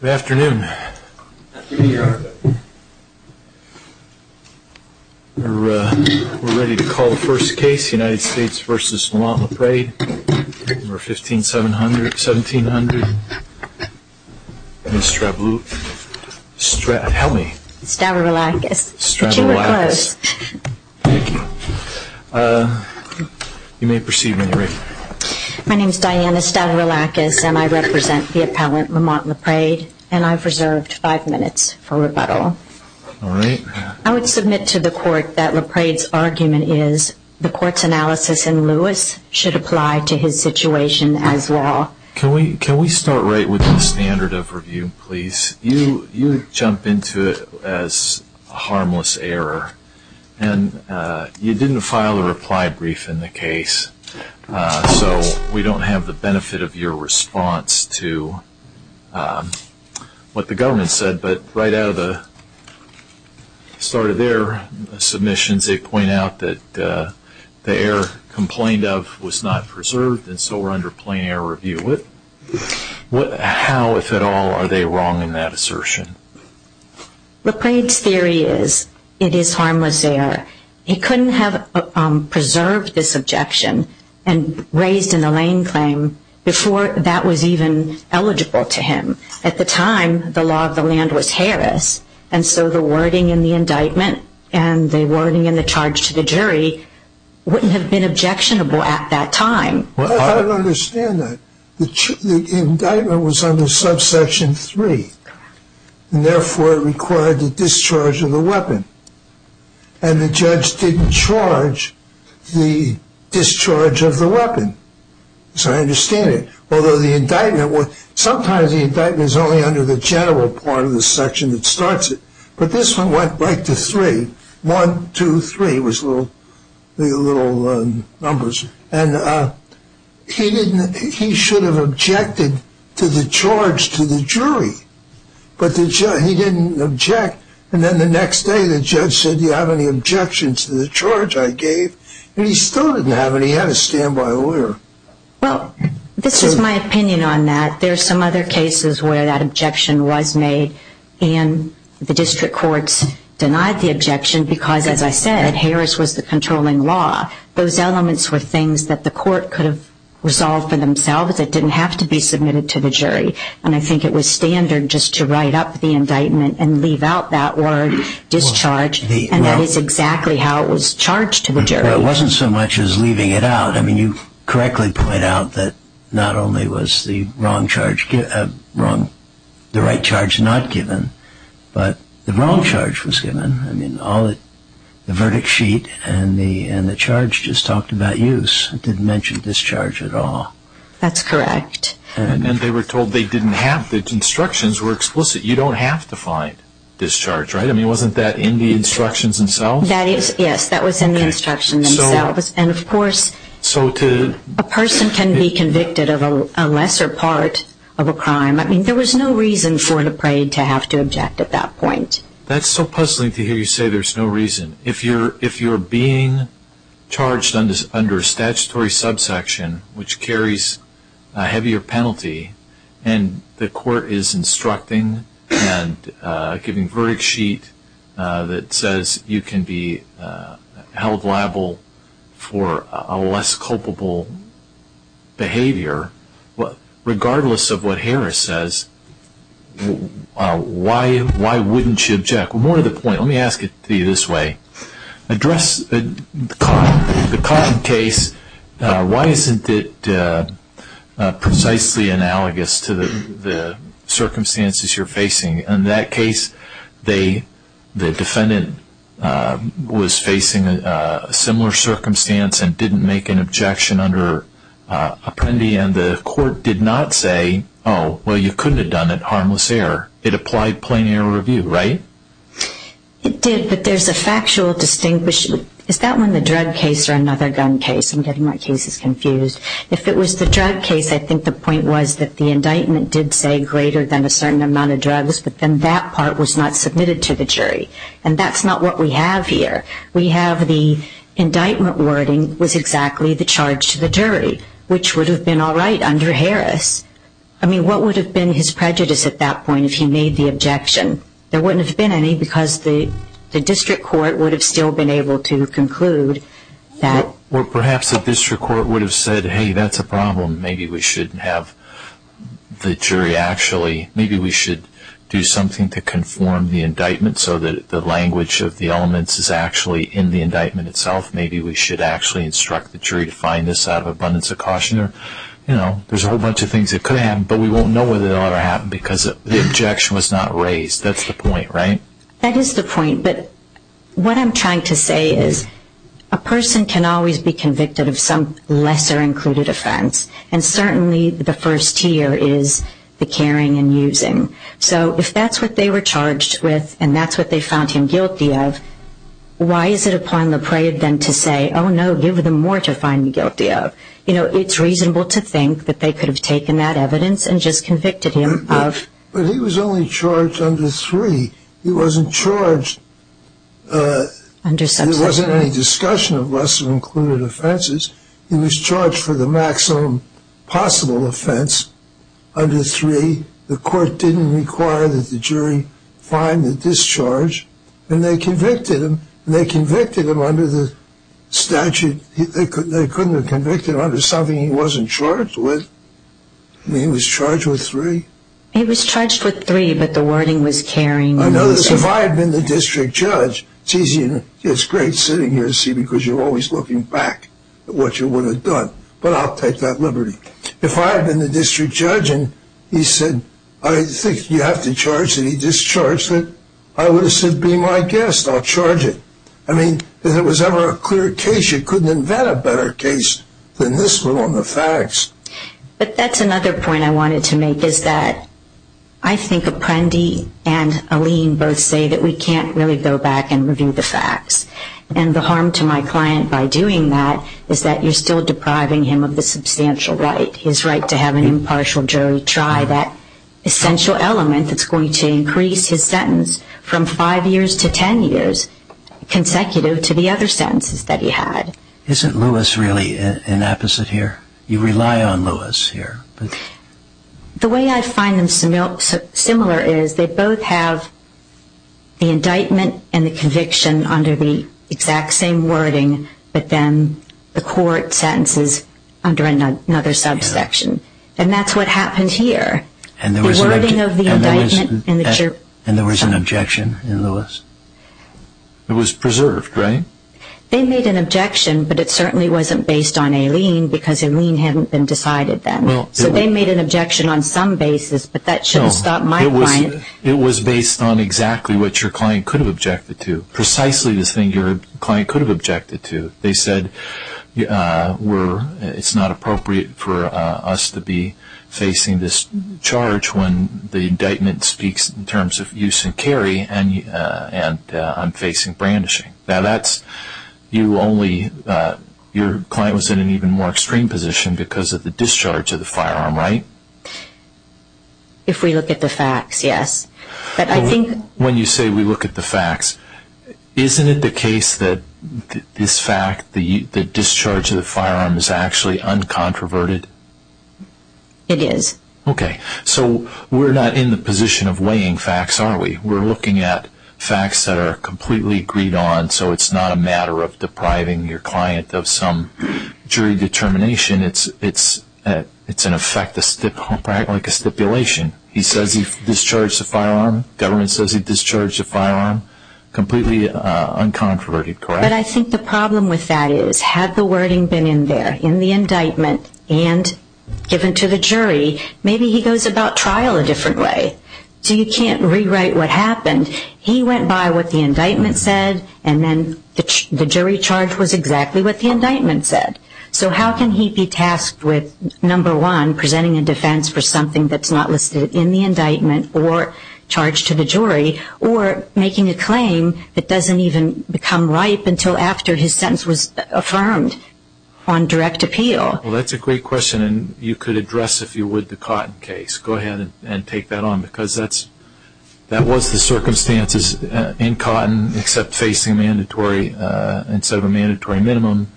Good afternoon. We are ready to call the first case, United States v. La Prade, number 1,500-1,700. My name is Diana Stavroulakis and I represent the appellant, Lamont La Prade, and I've reserved five minutes for rebuttal. I would submit to the court that La Prade's argument is the court's analysis in Lewis should apply to his situation as well. Can we start right with the standard of review, please? You jump into it as harmless error, and you didn't file a reply brief in the case, so we don't have the benefit of your response to what the government said, but right out of the start of their submissions, they point out that the error complained of was not preserved, and so we're under plain error review. How, if at all, are they wrong in that assertion? La Prade's theory is it is harmless error. He couldn't have preserved this objection and raised an Elaine claim before that was even eligible to him. At the time, the law of the land was Harris, and so the wording in the indictment and the wording in the charge to the jury wouldn't have been objectionable at that time. Well, I don't understand that. The indictment was under subsection 3, and therefore it required the discharge of the weapon, and the judge didn't charge the discharge of the weapon. So I understand it. Although the indictment, sometimes the indictment is only under the general part of the section that starts it, but this one went right to 3. 1, 2, 3 was the little numbers, and he should have objected to the charge to the jury, but he didn't object, and then the next day the judge said, do you have any objections to the charge I gave, and he still didn't have any. He had a standby order. Well, this is my opinion on that. There are some other cases where that objection was made, and the district courts denied the objection because, as I said, Harris was the controlling law. Those elements were things that the court could have resolved for themselves. It didn't have to be submitted to the jury, and I think it was standard just to write up the indictment and leave out that word, discharge, and that is exactly how it was charged to the jury. Well, it wasn't so much as leaving it out. I mean, you correctly point out that not only was the right charge not given, but the wrong charge was given. I mean, the verdict sheet and the charge just talked about use. It didn't mention discharge at all. That's correct. And they were told the instructions were explicit. You don't have to find discharge, right? I mean, wasn't that in the instructions themselves? Yes, that was in the instructions themselves, and, of course, a person can be convicted of a lesser part of a crime. I mean, there was no reason for the parade to have to object at that point. That's so puzzling to hear you say there's no reason. If you're being charged under a statutory subsection, which carries a heavier penalty, and the court is instructing and giving a verdict sheet that says you can be held liable for a less culpable behavior, regardless of what Harris says, why wouldn't you object? More to the point, let me ask it to you this way. Address the Cotton case. Why isn't it precisely analogous to the circumstances you're facing? In that case, the defendant was facing a similar circumstance and didn't make an objection under Apprendi, and the court did not say, oh, well, you couldn't have done it, harmless error. It applied plain error review, right? It did, but there's a factual distinction. Is that one the drug case or another gun case? I'm getting my cases confused. If it was the drug case, I think the point was that the indictment did say greater than a certain amount of drugs, but then that part was not submitted to the jury, and that's not what we have here. We have the indictment wording was exactly the charge to the jury, which would have been all right under Harris. I mean, what would have been his prejudice at that point if he made the objection? There wouldn't have been any because the district court would have still been able to conclude that. Or perhaps the district court would have said, hey, that's a problem. Maybe we should have the jury actually, maybe we should do something to conform the indictment so that the language of the elements is actually in the indictment itself. Maybe we should actually instruct the jury to find this out of abundance of caution. You know, there's a whole bunch of things that could have happened, but we won't know whether they'll ever happen because the objection was not raised. That's the point, right? That is the point, but what I'm trying to say is a person can always be convicted of some lesser included offense, and certainly the first tier is the caring and using. So if that's what they were charged with and that's what they found him guilty of, why is it upon the prey then to say, oh, no, give them more to find guilty of? You know, it's reasonable to think that they could have taken that evidence and just convicted him of. But he was only charged under three. He wasn't charged. There wasn't any discussion of lesser included offenses. He was charged for the maximum possible offense under three. The court didn't require that the jury find the discharge, and they convicted him. They convicted him under the statute. They couldn't have convicted him under something he wasn't charged with. He was charged with three. He was charged with three, but the wording was caring and using. If I had been the district judge, it's great sitting here to see because you're always looking back at what you would have done, but I'll take that liberty. If I had been the district judge and he said, I think you have to charge that he discharged it, I would have said, be my guest, I'll charge it. I mean, if there was ever a clear case, you couldn't invent a better case than this one on the facts. But that's another point I wanted to make is that I think Apprendi and Alene both say that we can't really go back and review the facts. And the harm to my client by doing that is that you're still depriving him of the substantial right, his right to have an impartial jury try that essential element that's going to increase his sentence from five years to ten years, consecutive to the other sentences that he had. Isn't Lewis really an apposite here? You rely on Lewis here. The way I find them similar is they both have the indictment and the conviction under the exact same wording, but then the court sentences under another subsection. And that's what happened here. And there was an objection in Lewis? It was preserved, right? They made an objection, but it certainly wasn't based on Alene because Alene hadn't been decided then. So they made an objection on some basis, but that shouldn't stop my client. It was based on exactly what your client could have objected to, precisely the thing your client could have objected to. They said it's not appropriate for us to be facing this charge when the indictment speaks in terms of use and carry and I'm facing brandishing. Your client was in an even more extreme position because of the discharge of the firearm, right? If we look at the facts, yes. When you say we look at the facts, isn't it the case that this fact, the discharge of the firearm, is actually uncontroverted? It is. Okay. So we're not in the position of weighing facts, are we? We're looking at facts that are completely agreed on so it's not a matter of depriving your client of some jury determination. It's in effect like a stipulation. He says he discharged the firearm. Government says he discharged the firearm. Completely uncontroverted, correct? But I think the problem with that is had the wording been in there in the indictment and given to the jury, maybe he goes about trial a different way. So you can't rewrite what happened. He went by what the indictment said and then the jury charge was exactly what the indictment said. So how can he be tasked with, number one, presenting a defense for something that's not listed in the indictment or charged to the jury or making a claim that doesn't even become ripe until after his sentence was affirmed on direct appeal? Well, that's a great question and you could address, if you would, the Cotton case. Go ahead and take that on because that was the circumstances in Cotton except facing a mandatory, instead of a mandatory minimum,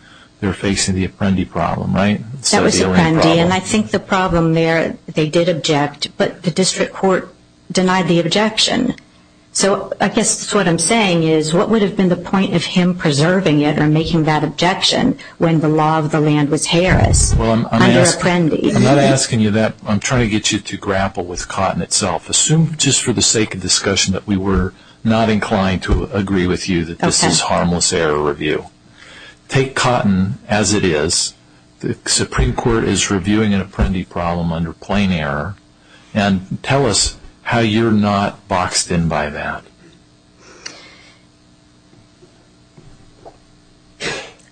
they were facing the Apprendi problem, right? That was Apprendi and I think the problem there, they did object, but the district court denied the objection. So I guess what I'm saying is what would have been the point of him preserving it or making that objection when the law of the land was Harris under Apprendi? Well, I'm not asking you that. I'm trying to get you to grapple with Cotton itself. Assume just for the sake of discussion that we were not inclined to agree with you that this is harmless error review. Take Cotton as it is. The Supreme Court is reviewing an Apprendi problem under plain error and tell us how you're not boxed in by that.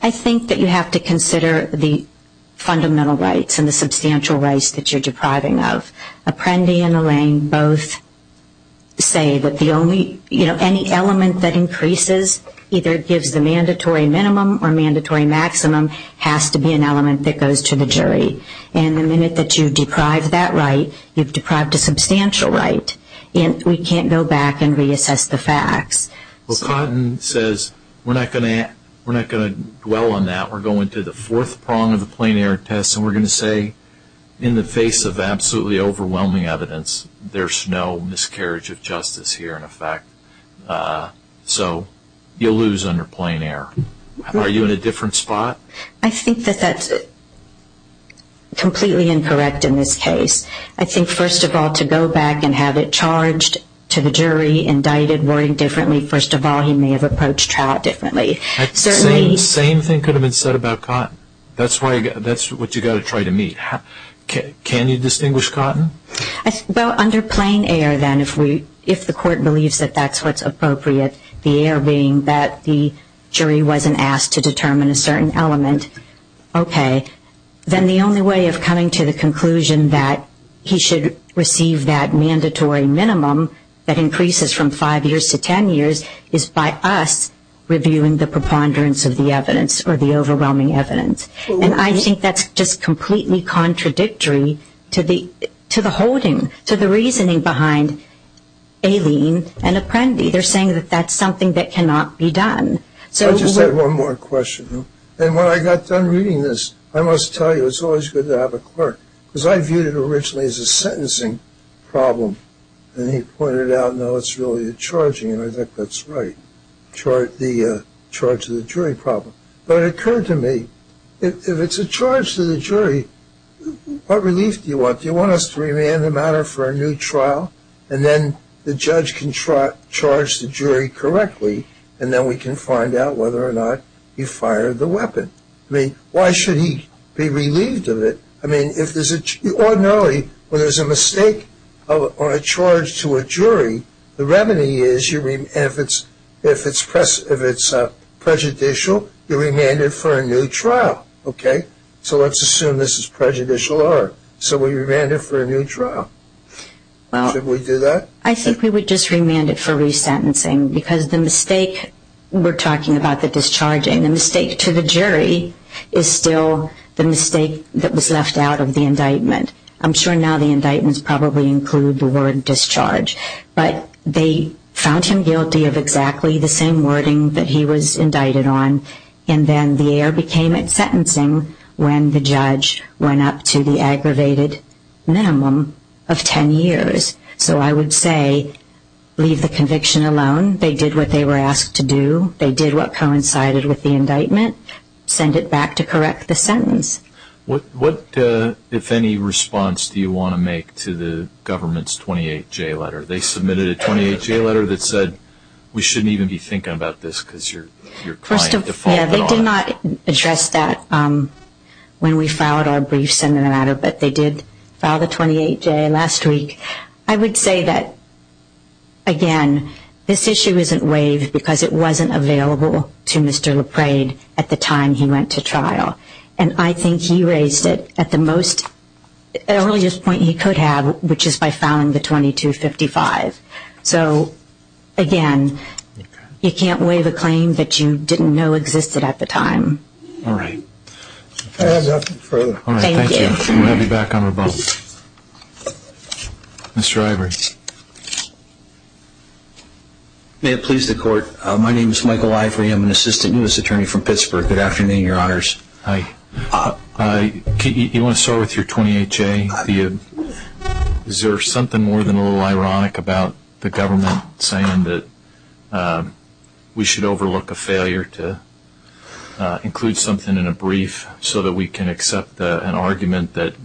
I think that you have to consider the fundamental rights and the substantial rights that you're depriving of. Apprendi and Allain both say that any element that increases either gives the mandatory minimum or mandatory maximum has to be an element that goes to the jury. And the minute that you deprive that right, you've deprived a substantial right. And we can't go back and reassess the facts. Well, Cotton says we're not going to dwell on that. We're going to the fourth prong of the plain error test, and we're going to say in the face of absolutely overwhelming evidence, there's no miscarriage of justice here in effect. So you lose under plain error. Are you in a different spot? I think that that's completely incorrect in this case. I think, first of all, to go back and have it charged to the jury, indicted, worded differently, first of all, he may have approached Trout differently. Same thing could have been said about Cotton. That's what you've got to try to meet. Can you distinguish Cotton? Well, under plain error, then, if the court believes that that's what's appropriate, the error being that the jury wasn't asked to determine a certain element, okay. Then the only way of coming to the conclusion that he should receive that mandatory minimum that increases from five years to ten years is by us reviewing the preponderance of the evidence or the overwhelming evidence. And I think that's just completely contradictory to the holding, to the reasoning behind Aileen and Apprendi. They're saying that that's something that cannot be done. I just have one more question. And when I got done reading this, I must tell you it's always good to have a clerk because I viewed it originally as a sentencing problem, and he pointed out, no, it's really a charging, and I think that's right, the charge to the jury problem. But it occurred to me, if it's a charge to the jury, what relief do you want? Do you want us to remand the matter for a new trial, and then the judge can charge the jury correctly, and then we can find out whether or not you fired the weapon? I mean, why should he be relieved of it? I mean, if there's an ordinarily, when there's a mistake or a charge to a jury, the remedy is if it's prejudicial, you remand it for a new trial, okay? So let's assume this is prejudicial error. So we remand it for a new trial. Should we do that? I think we would just remand it for resentencing because the mistake, we're talking about the discharging, the mistake to the jury is still the mistake that was left out of the indictment. I'm sure now the indictments probably include the word discharge, but they found him guilty of exactly the same wording that he was indicted on, and then the error became at sentencing when the judge went up to the aggravated minimum of 10 years. So I would say leave the conviction alone. They did what they were asked to do. They did what coincided with the indictment. Send it back to correct the sentence. What, if any, response do you want to make to the government's 28-J letter? They submitted a 28-J letter that said we shouldn't even be thinking about this because you're trying to define it all. Yeah, they did not address that when we filed our briefs in the matter, but they did file the 28-J last week. I would say that, again, this issue isn't waived because it wasn't available to Mr. LaPrade at the time he went to trial, and I think he raised it at the earliest point he could have, which is by filing the 2255. So, again, you can't waive a claim that you didn't know existed at the time. All right. Thank you. We'll have you back on the phone. Mr. Ivory. May it please the Court, my name is Michael Ivory. I'm an assistant U.S. attorney from Pittsburgh. Good afternoon, Your Honors. Hi. You want to start with your 28-J? Is there something more than a little ironic about the government saying that we should overlook a failure to include something in a brief so that we can accept an argument that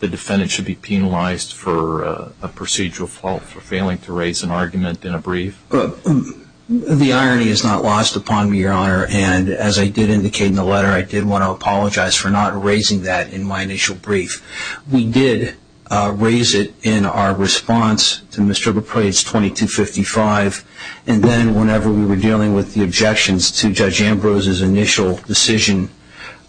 the defendant should be penalized for a procedural fault for failing to raise an argument in a brief? The irony is not lost upon me, Your Honor, and as I did indicate in the letter I did want to apologize for not raising that in my initial brief. We did raise it in our response to Mr. LaPrade's 2255, and then whenever we were dealing with the objections to Judge Ambrose's initial decision,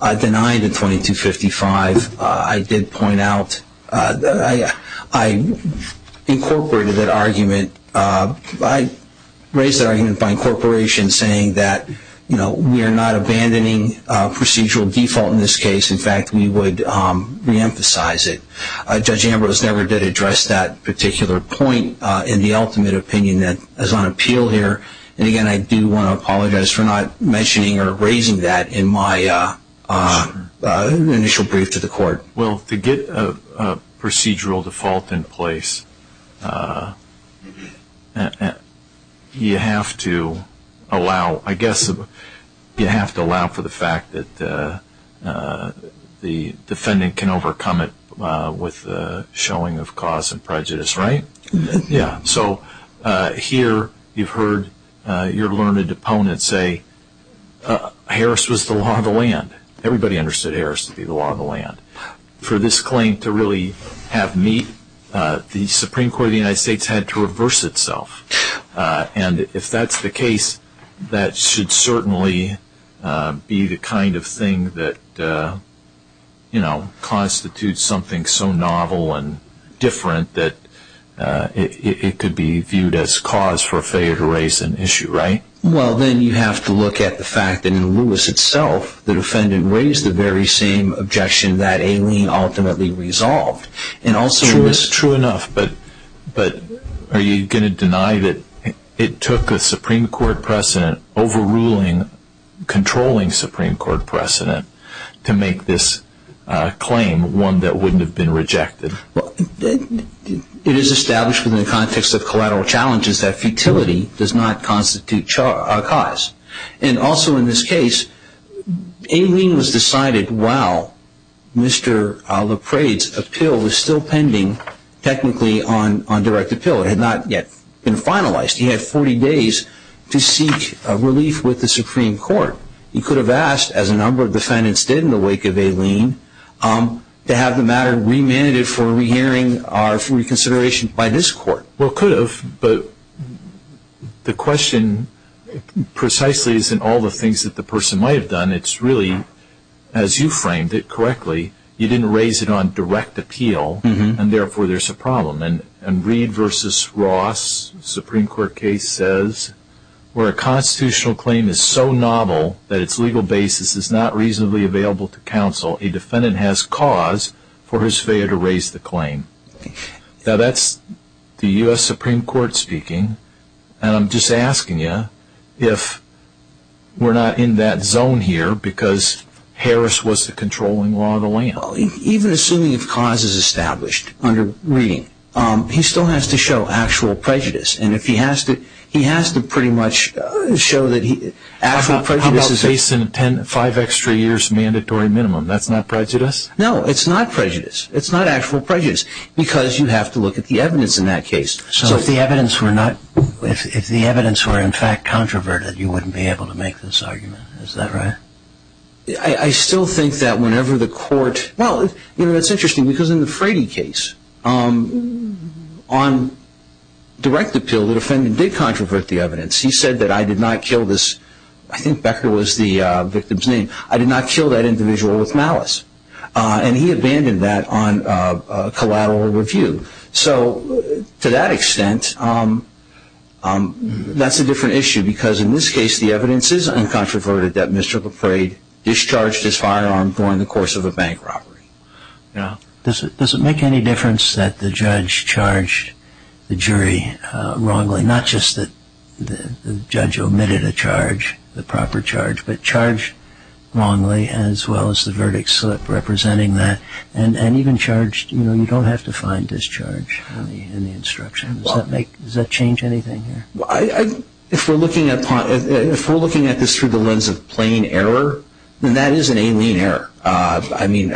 I denied the 2255. I did point out that I incorporated that argument. I raised that argument by incorporation saying that, you know, we are not abandoning procedural default in this case. In fact, we would reemphasize it. Judge Ambrose never did address that particular point in the ultimate opinion that is on appeal here, and again I do want to apologize for not mentioning or raising that in my initial brief to the court. Well, to get a procedural default in place, you have to allow, I guess, you have to allow for the fact that the defendant can overcome it with the showing of cause and prejudice, right? Yeah. So here you've heard your learned opponent say Harris was the law of the land. Everybody understood Harris to be the law of the land. For this claim to really have meat, the Supreme Court of the United States had to reverse itself, and if that's the case, that should certainly be the kind of thing that, you know, constitutes something so novel and different that it could be viewed as cause for failure to raise an issue, right? Well, then you have to look at the fact that in Lewis itself, the defendant raised the very same objection that Aileen ultimately resolved. True enough, but are you going to deny that it took a Supreme Court precedent overruling, controlling Supreme Court precedent to make this claim one that wouldn't have been rejected? It is established within the context of collateral challenges that futility does not constitute cause, and also in this case, Aileen was decided while Mr. LaPrade's appeal was still pending technically on direct appeal. It had not yet been finalized. He had 40 days to seek relief with the Supreme Court. He could have asked, as a number of defendants did in the wake of Aileen, to have the matter remanded for re-hearing or for reconsideration by this court. Well, could have, but the question precisely isn't all the things that the person might have done. It's really, as you framed it correctly, you didn't raise it on direct appeal, and therefore there's a problem. And Reed v. Ross, Supreme Court case says, where a constitutional claim is so novel that its legal basis is not reasonably available to counsel, a defendant has cause for his failure to raise the claim. Now that's the U.S. Supreme Court speaking, and I'm just asking you if we're not in that zone here because Harris was the controlling law of the land. Even assuming if cause is established under Reed, he still has to show actual prejudice, and if he has to, he has to pretty much show that actual prejudice is... How about 5 extra years mandatory minimum, that's not prejudice? No, it's not prejudice. It's not actual prejudice because you have to look at the evidence in that case. So if the evidence were not... If the evidence were in fact controverted, you wouldn't be able to make this argument, is that right? I still think that whenever the court... Well, you know, it's interesting because in the Frady case, on direct appeal, the defendant did controvert the evidence. He said that I did not kill this... I think Becker was the victim's name. I did not kill that individual with malice. And he abandoned that on collateral review. So to that extent, that's a different issue because in this case, the evidence is uncontroverted that Mr. LePrade discharged his firearm during the course of a bank robbery. Does it make any difference that the judge charged the jury wrongly, not just that the judge omitted a charge, the proper charge, but charged wrongly as well as the verdict slip representing that? And even charged, you know, you don't have to find discharge in the instruction. Does that change anything here? If we're looking at this through the lens of plain error, then that is an alien error. I mean,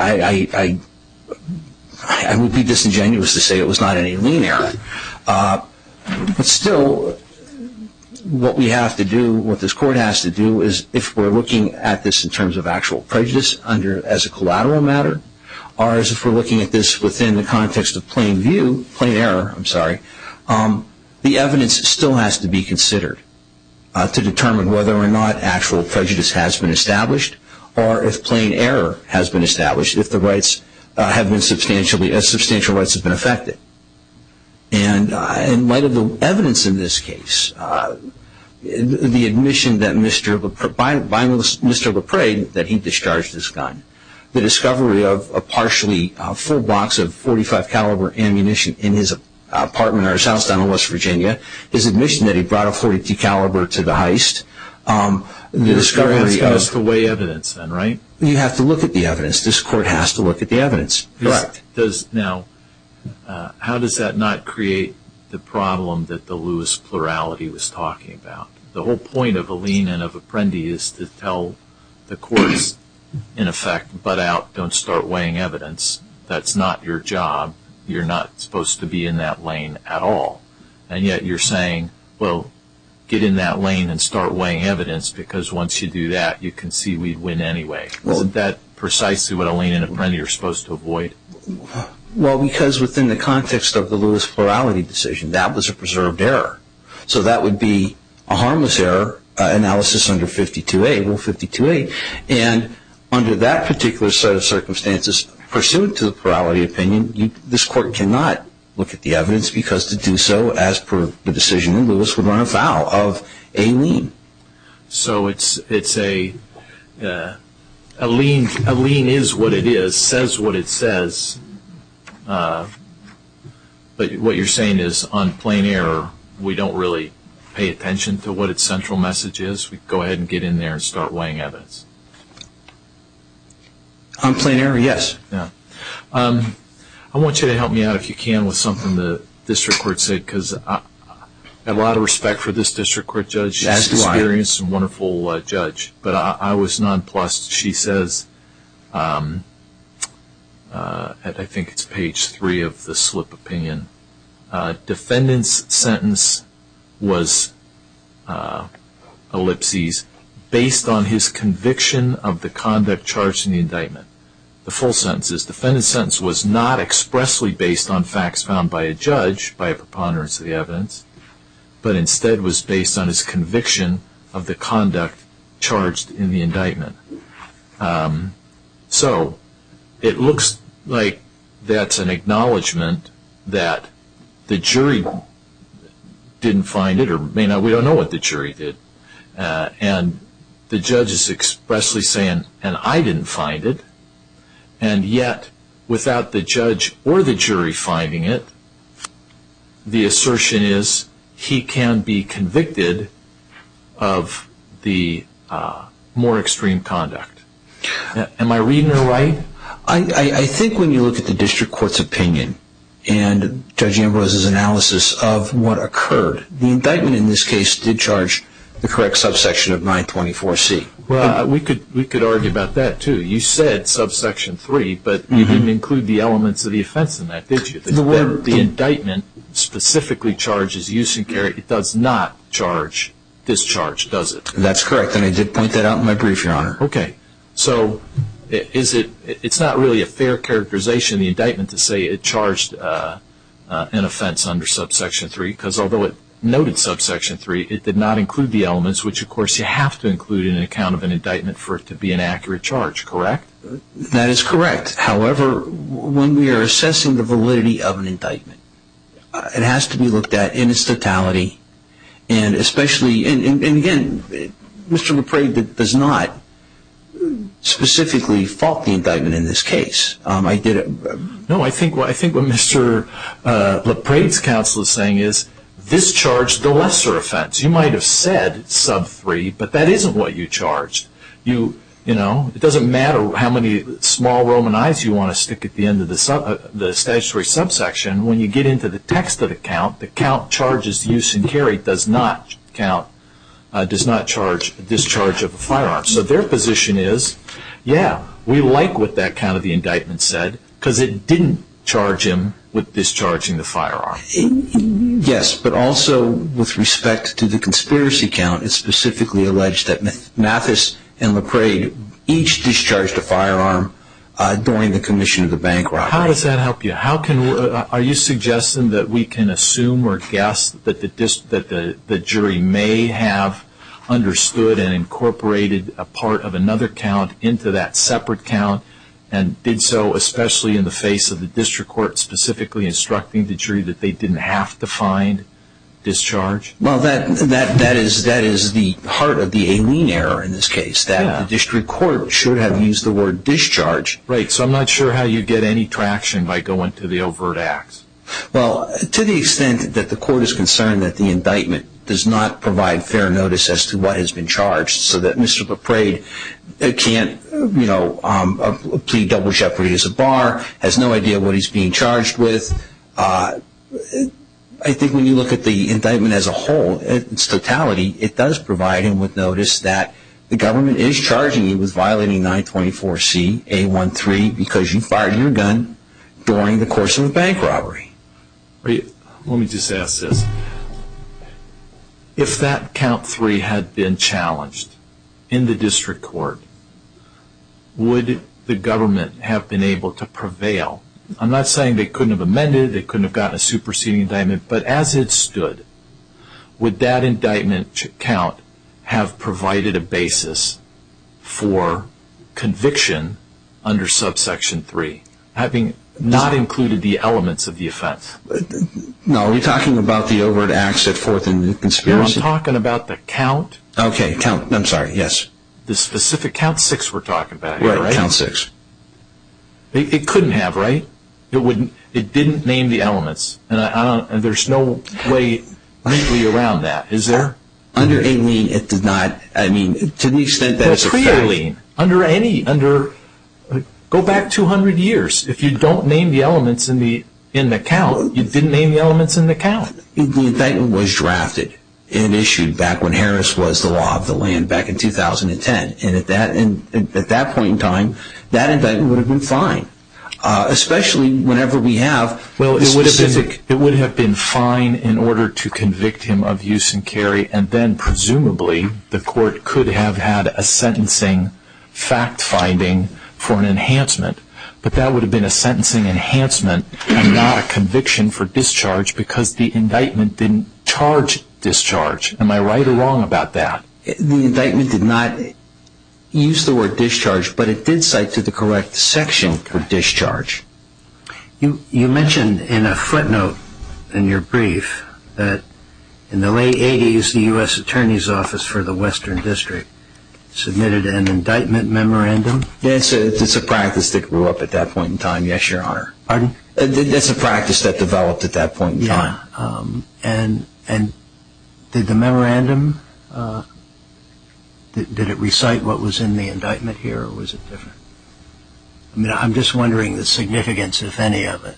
I would be disingenuous to say it was not an alien error. But still, what we have to do, what this court has to do, is if we're looking at this in terms of actual prejudice as a collateral matter, or if we're looking at this within the context of plain view, plain error, I'm sorry, the evidence still has to be considered to determine whether or not actual prejudice has been established or if plain error has been established, if substantial rights have been affected. And in light of the evidence in this case, the admission by Mr. LePrade that he discharged his gun, the discovery of a partially full box of .45 caliber ammunition in his apartment or his house down in West Virginia, his admission that he brought a .40 caliber to the heist, the discovery of You have to weigh evidence then, right? You have to look at the evidence. This court has to look at the evidence. Correct. Now, how does that not create the problem that the Lewis plurality was talking about? The whole point of a lien and of apprendi is to tell the courts, in effect, butt out, don't start weighing evidence. That's not your job. You're not supposed to be in that lane at all. And yet you're saying, well, get in that lane and start weighing evidence because once you do that, you can see we'd win anyway. Isn't that precisely what a lien and apprendi are supposed to avoid? Well, because within the context of the Lewis plurality decision, that was a preserved error. So that would be a harmless error, analysis under 52A, rule 52A. And under that particular set of circumstances, pursuant to the plurality opinion, this court cannot look at the evidence because to do so, as per the decision in Lewis, the courts would run afoul of a lien. So a lien is what it is, says what it says. But what you're saying is on plain error, we don't really pay attention to what its central message is. We go ahead and get in there and start weighing evidence. On plain error, yes. I want you to help me out, if you can, with something the district court said because I have a lot of respect for this district court judge. She's an experienced and wonderful judge, but I was nonplussed. She says, I think it's page three of the slip opinion, defendant's sentence was, ellipses, based on his conviction of the conduct charged in the indictment. The full sentence is defendant's sentence was not expressly based on facts found by a judge, by a preponderance of the evidence, but instead was based on his conviction of the conduct charged in the indictment. So it looks like that's an acknowledgment that the jury didn't find it, or we don't know what the jury did. And the judge is expressly saying, and I didn't find it. And yet, without the judge or the jury finding it, the assertion is he can be convicted of the more extreme conduct. Am I reading it right? I think when you look at the district court's opinion and Judge Ambrose's analysis of what occurred, the indictment in this case did charge the correct subsection of 924C. We could argue about that, too. You said subsection 3, but you didn't include the elements of the offense in that, did you? The indictment specifically charges use and carry. It does not charge discharge, does it? That's correct, and I did point that out in my brief, Your Honor. Okay. So it's not really a fair characterization in the indictment to say it charged an offense under subsection 3, because although it noted subsection 3, it did not include the elements, which, of course, you have to include in an account of an indictment for it to be an accurate charge, correct? That is correct. However, when we are assessing the validity of an indictment, it has to be looked at in its totality. And again, Mr. LaPrade does not specifically fault the indictment in this case. No, I think what Mr. LaPrade's counsel is saying is this charged the lesser offense. You might have said sub 3, but that isn't what you charged. It doesn't matter how many small Roman eyes you want to stick at the end of the statutory subsection. When you get into the text of the count, the count charges use and carry does not charge discharge of a firearm. So their position is, yeah, we like what that count of the indictment said, because it didn't charge him with discharging the firearm. Yes, but also with respect to the conspiracy count, it's specifically alleged that Mathis and LaPrade each discharged a firearm during the commission of the bank robbery. How does that help you? Are you suggesting that we can assume or guess that the jury may have understood and incorporated a part of another count into that separate count and did so especially in the face of the district court specifically instructing the jury that they didn't have to find discharge? Well, that is the heart of the Alene error in this case, that the district court should have used the word discharge. Right, so I'm not sure how you get any traction by going to the overt acts. Well, to the extent that the court is concerned that the indictment does not provide fair notice as to what has been charged so that Mr. LaPrade can't plead double jeopardy as a bar, has no idea what he's being charged with, I think when you look at the indictment as a whole, its totality, it does provide him with notice that the government is charging him with violating 924C A13 because you fired your gun during the course of the bank robbery. Let me just ask this. If that count 3 had been challenged in the district court, would the government have been able to prevail? I'm not saying they couldn't have amended it, they couldn't have gotten a superseding indictment, but as it stood, would that indictment count have provided a basis for conviction under subsection 3, having not included the elements of the offense? No, are you talking about the overt acts at 4th and the conspiracy? No, I'm talking about the count. Okay, count, I'm sorry, yes. The specific count 6 we're talking about here, right? Right, count 6. It couldn't have, right? It didn't name the elements, and there's no way around that, is there? Under a lien, it did not. To the extent that it's a fair lien. Go back 200 years. If you don't name the elements in the count, you didn't name the elements in the count. The indictment was drafted and issued back when Harris was the law of the land, back in 2010. At that point in time, that indictment would have been fine, especially whenever we have a specific... The Supreme Court could have had a sentencing fact-finding for an enhancement, but that would have been a sentencing enhancement and not a conviction for discharge because the indictment didn't charge discharge. Am I right or wrong about that? The indictment did not use the word discharge, but it did cite to the correct section for discharge. You mentioned in a footnote in your brief that in the late 80s, the U.S. Attorney's Office for the Western District submitted an indictment memorandum. Yes, it's a practice that grew up at that point in time, yes, Your Honor. Pardon? That's a practice that developed at that point in time. Yeah, and did the memorandum, did it recite what was in the indictment here, or was it different? I'm just wondering the significance, if any, of it.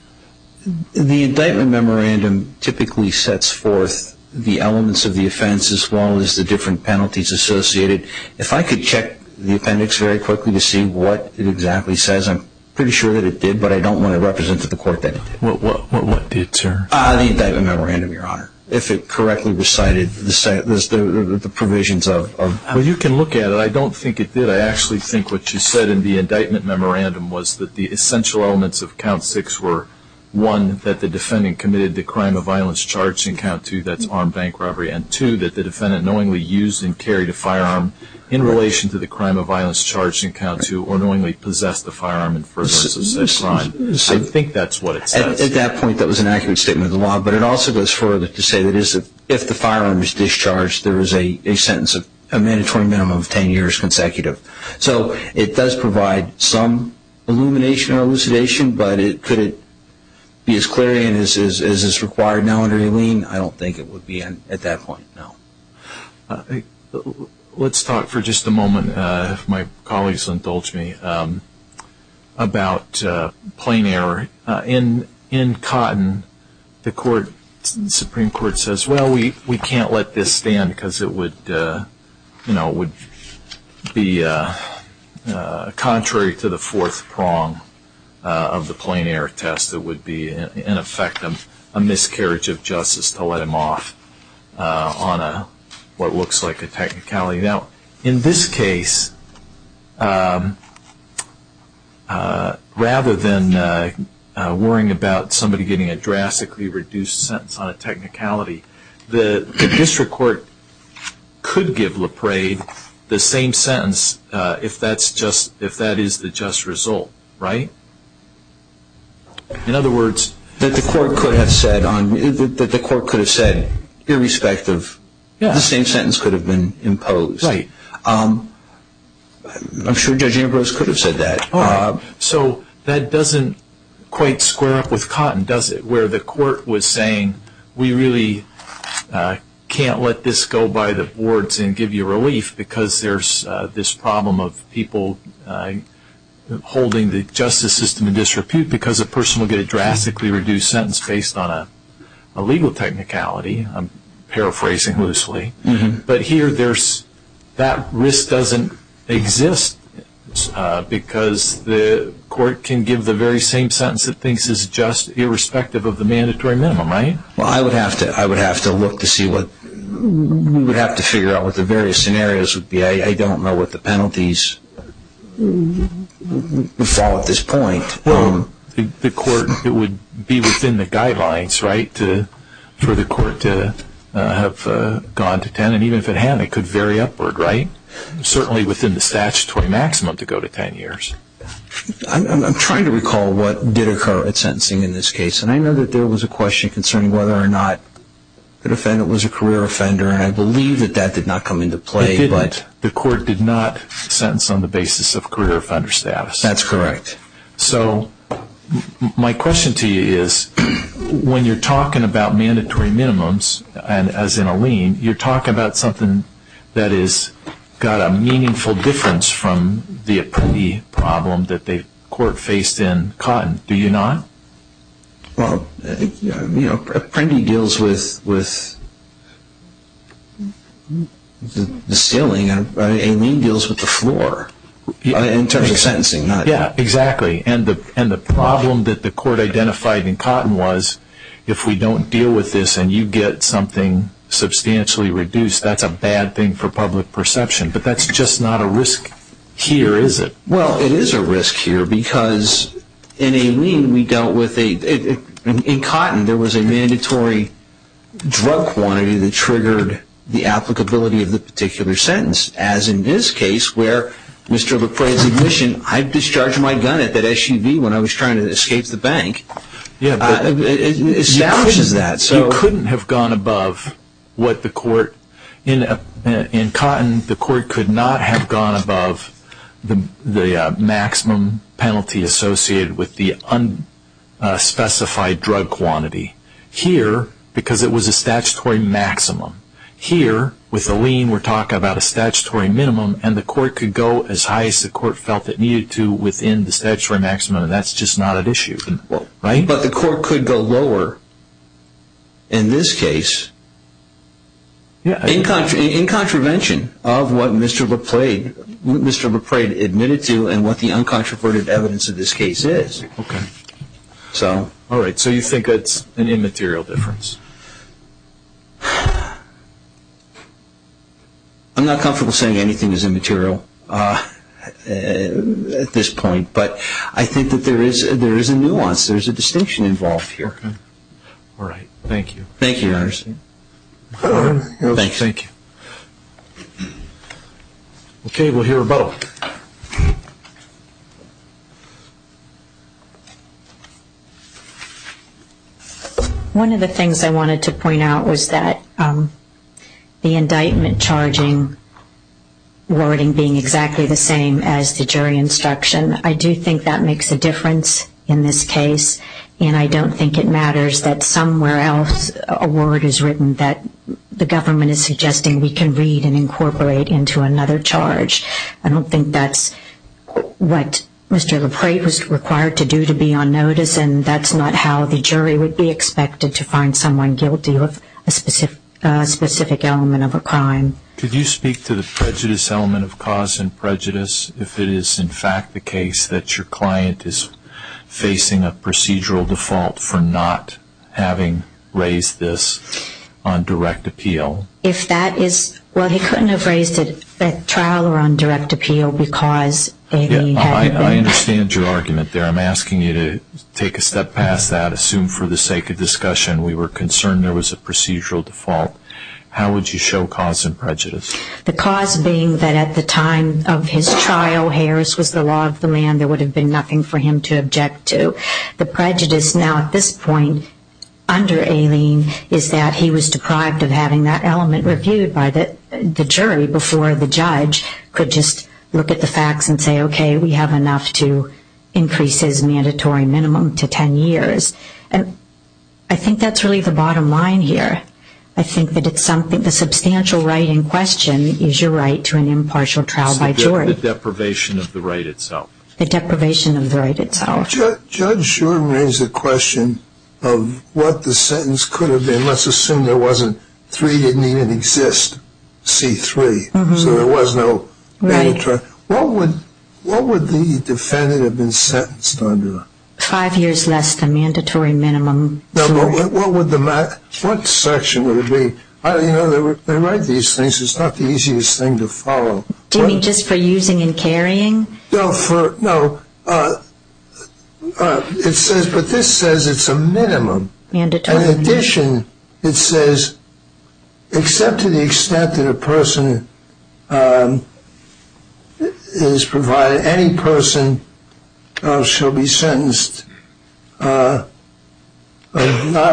The indictment memorandum typically sets forth the elements of the offense as well as the different penalties associated. If I could check the appendix very quickly to see what it exactly says, I'm pretty sure that it did, but I don't want to represent to the court that it did. What did, sir? The indictment memorandum, Your Honor, if it correctly recited the provisions of... Well, you can look at it. I don't think it did. I actually think what you said in the indictment memorandum was that the essential elements of Count 6 were, one, that the defendant committed the crime of violence charged in Count 2, that's armed bank robbery, and two, that the defendant knowingly used and carried a firearm in relation to the crime of violence charged in Count 2 or knowingly possessed the firearm in furtherance of said crime. I think that's what it says. At that point, that was an accurate statement of the law, but it also goes further to say that if the firearm is discharged, there is a sentence of a mandatory minimum of 10 years consecutive. So it does provide some illumination or elucidation, but could it be as clear as is required now under Eileen? I don't think it would be at that point, no. Let's talk for just a moment, if my colleagues indulge me, about plain error. In Cotton, the Supreme Court says, well, we can't let this stand because it would be contrary to the fourth prong of the plain error test. It would be, in effect, a miscarriage of justice to let him off on what looks like a technicality. Now, in this case, rather than worrying about somebody getting a drastically reduced sentence on a technicality, the district court could give LaPrade the same sentence if that is the just result, right? In other words, the court could have said, irrespective, the same sentence could have been imposed. I'm sure Judge Ambrose could have said that. So that doesn't quite square up with Cotton, does it, where the court was saying we really can't let this go by the boards and give you relief because there's this problem of people holding the justice system in disrepute because a person will get a drastically reduced sentence based on a legal technicality. I'm paraphrasing loosely. But here, that risk doesn't exist because the court can give the very same sentence that thinks is just irrespective of the mandatory minimum, right? Well, I would have to look to see what – we would have to figure out what the various scenarios would be. I don't know what the penalties would fall at this point. Well, the court, it would be within the guidelines, right, for the court to have gone to 10. And even if it had, it could vary upward, right? Certainly within the statutory maximum to go to 10 years. I'm trying to recall what did occur at sentencing in this case. And I know that there was a question concerning whether or not the defendant was a career offender. And I believe that that did not come into play. It didn't. The court did not sentence on the basis of career offender status. That's correct. So my question to you is, when you're talking about mandatory minimums, as in a lien, you're talking about something that has got a meaningful difference from the apprendee problem that the court faced in Cotton. Do you not? Well, you know, apprendee deals with the ceiling and a lien deals with the floor in terms of sentencing. Yeah, exactly. And the problem that the court identified in Cotton was, if we don't deal with this and you get something substantially reduced, that's a bad thing for public perception. But that's just not a risk here, is it? Well, it is a risk here because in a lien, we dealt with a, in Cotton, there was a mandatory drug quantity that triggered the applicability of the particular sentence, as in this case where Mr. LaFraye's admission, I discharged my gun at that SUV when I was trying to escape the bank, establishes that. You couldn't have gone above what the court, in Cotton, the court could not have gone above the maximum penalty associated with the unspecified drug quantity. Here, because it was a statutory maximum, here, with a lien, we're talking about a statutory minimum, and the court could go as high as the court felt it needed to within the statutory maximum, and that's just not an issue, right? But the court could go lower in this case in contravention of what Mr. LaFraye admitted to and what the uncontroverted evidence of this case is. Okay. All right. So you think it's an immaterial difference? I'm not comfortable saying anything is immaterial at this point, but I think that there is a nuance, there is a distinction involved here. Okay. All right. Thank you. Thank you, Your Honor. Thank you. Okay, we'll hear a vote. One of the things I wanted to point out was that the indictment charging wording being exactly the same as the jury instruction, I do think that makes a difference in this case, and I don't think it matters that somewhere else a word is written that the government is suggesting we can read and incorporate into another charge. I don't think that's what Mr. LaFraye was required to do to be on notice, and that's not how the jury would be expected to find someone guilty of a specific element of a crime. Could you speak to the prejudice element of cause and prejudice, if it is in fact the case that your client is facing a procedural default for not having raised this on direct appeal? Well, he couldn't have raised it at trial or on direct appeal because Aileen hadn't been. I understand your argument there. I'm asking you to take a step past that. Assume for the sake of discussion we were concerned there was a procedural default. How would you show cause and prejudice? The cause being that at the time of his trial, Harris was the law of the land. There would have been nothing for him to object to. The prejudice now at this point under Aileen is that he was deprived of having that element reviewed by the jury before the judge could just look at the facts and say, okay, we have enough to increase his mandatory minimum to 10 years. And I think that's really the bottom line here. I think that the substantial right in question is your right to an impartial trial by jury. So the deprivation of the right itself. The deprivation of the right itself. Judge Shuren raised the question of what the sentence could have been. Let's assume there wasn't three didn't even exist, C3, so there was no mandatory. What would the defendant have been sentenced under? Five years less than mandatory minimum. What section would it be? They write these things. It's not the easiest thing to follow. Do you mean just for using and carrying? No, but this says it's a minimum. In addition, it says except to the extent that a person is provided, any person shall be sentenced not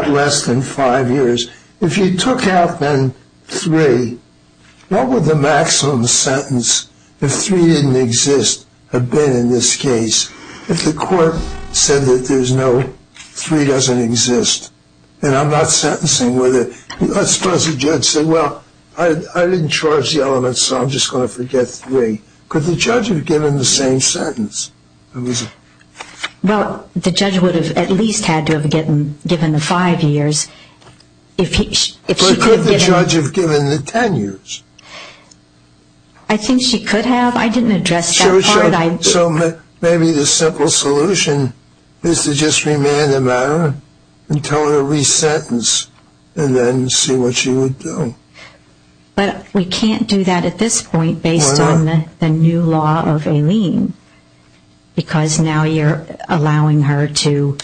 less than five years. If you took out, then, three, what would the maximum sentence if three didn't exist have been in this case? If the court said that there's no three doesn't exist and I'm not sentencing with it, let's suppose the judge said, well, I didn't charge the element, so I'm just going to forget three. Could the judge have given the same sentence? Well, the judge would have at least had to have given the five years. But could the judge have given the ten years? I think she could have. I didn't address that part. So maybe the simple solution is to just remand the matter and tell her to resentence and then see what she would do. But we can't do that at this point based on the new law of ALEEM. Because now you're allowing her to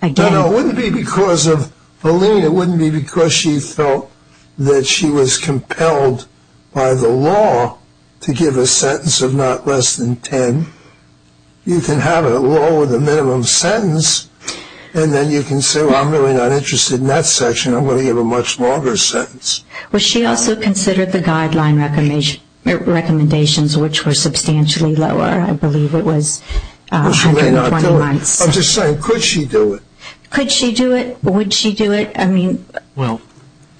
again. No, it wouldn't be because of ALEEM. It wouldn't be because she felt that she was compelled by the law to give a sentence of not less than ten. You can have a law with a minimum sentence, and then you can say, well, I'm really not interested in that section. I'm going to give a much longer sentence. Well, she also considered the guideline recommendations, which were substantially lower. I believe it was 120 months. I'm just saying, could she do it? Could she do it? Would she do it? Well,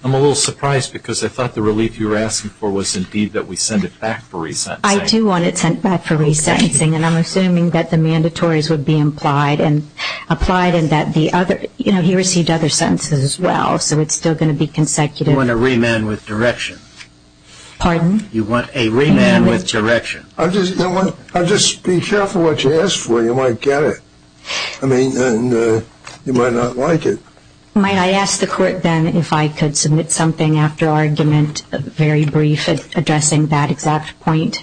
I'm a little surprised because I thought the relief you were asking for was indeed that we send it back for resentencing. I do want it sent back for resentencing, and I'm assuming that the mandatories would be applied and that he received other sentences as well, so it's still going to be consecutive. You want a remand with direction. Pardon? You want a remand with direction. I'll just be careful what you ask for. You might get it. I mean, you might not like it. May I ask the court then if I could submit something after argument, very brief, addressing that exact point?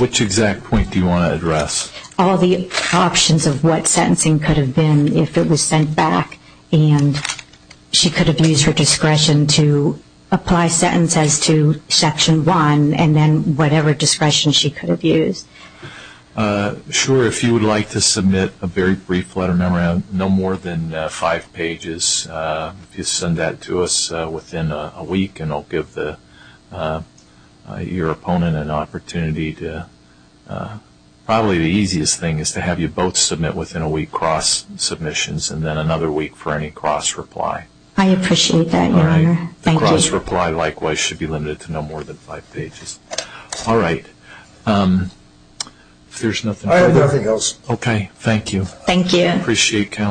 Which exact point do you want to address? All the options of what sentencing could have been if it was sent back, and she could have used her discretion to apply sentences to Section 1 and then whatever discretion she could have used. Sure. If you would like to submit a very brief letter of memorandum, no more than five pages, if you send that to us within a week and I'll give your opponent an opportunity. Probably the easiest thing is to have you both submit within a week cross-submissions and then another week for any cross-reply. I appreciate that, Your Honor. Thank you. The cross-reply, likewise, should be limited to no more than five pages. All right. If there's nothing else. I have nothing else. Okay. Thank you. Thank you.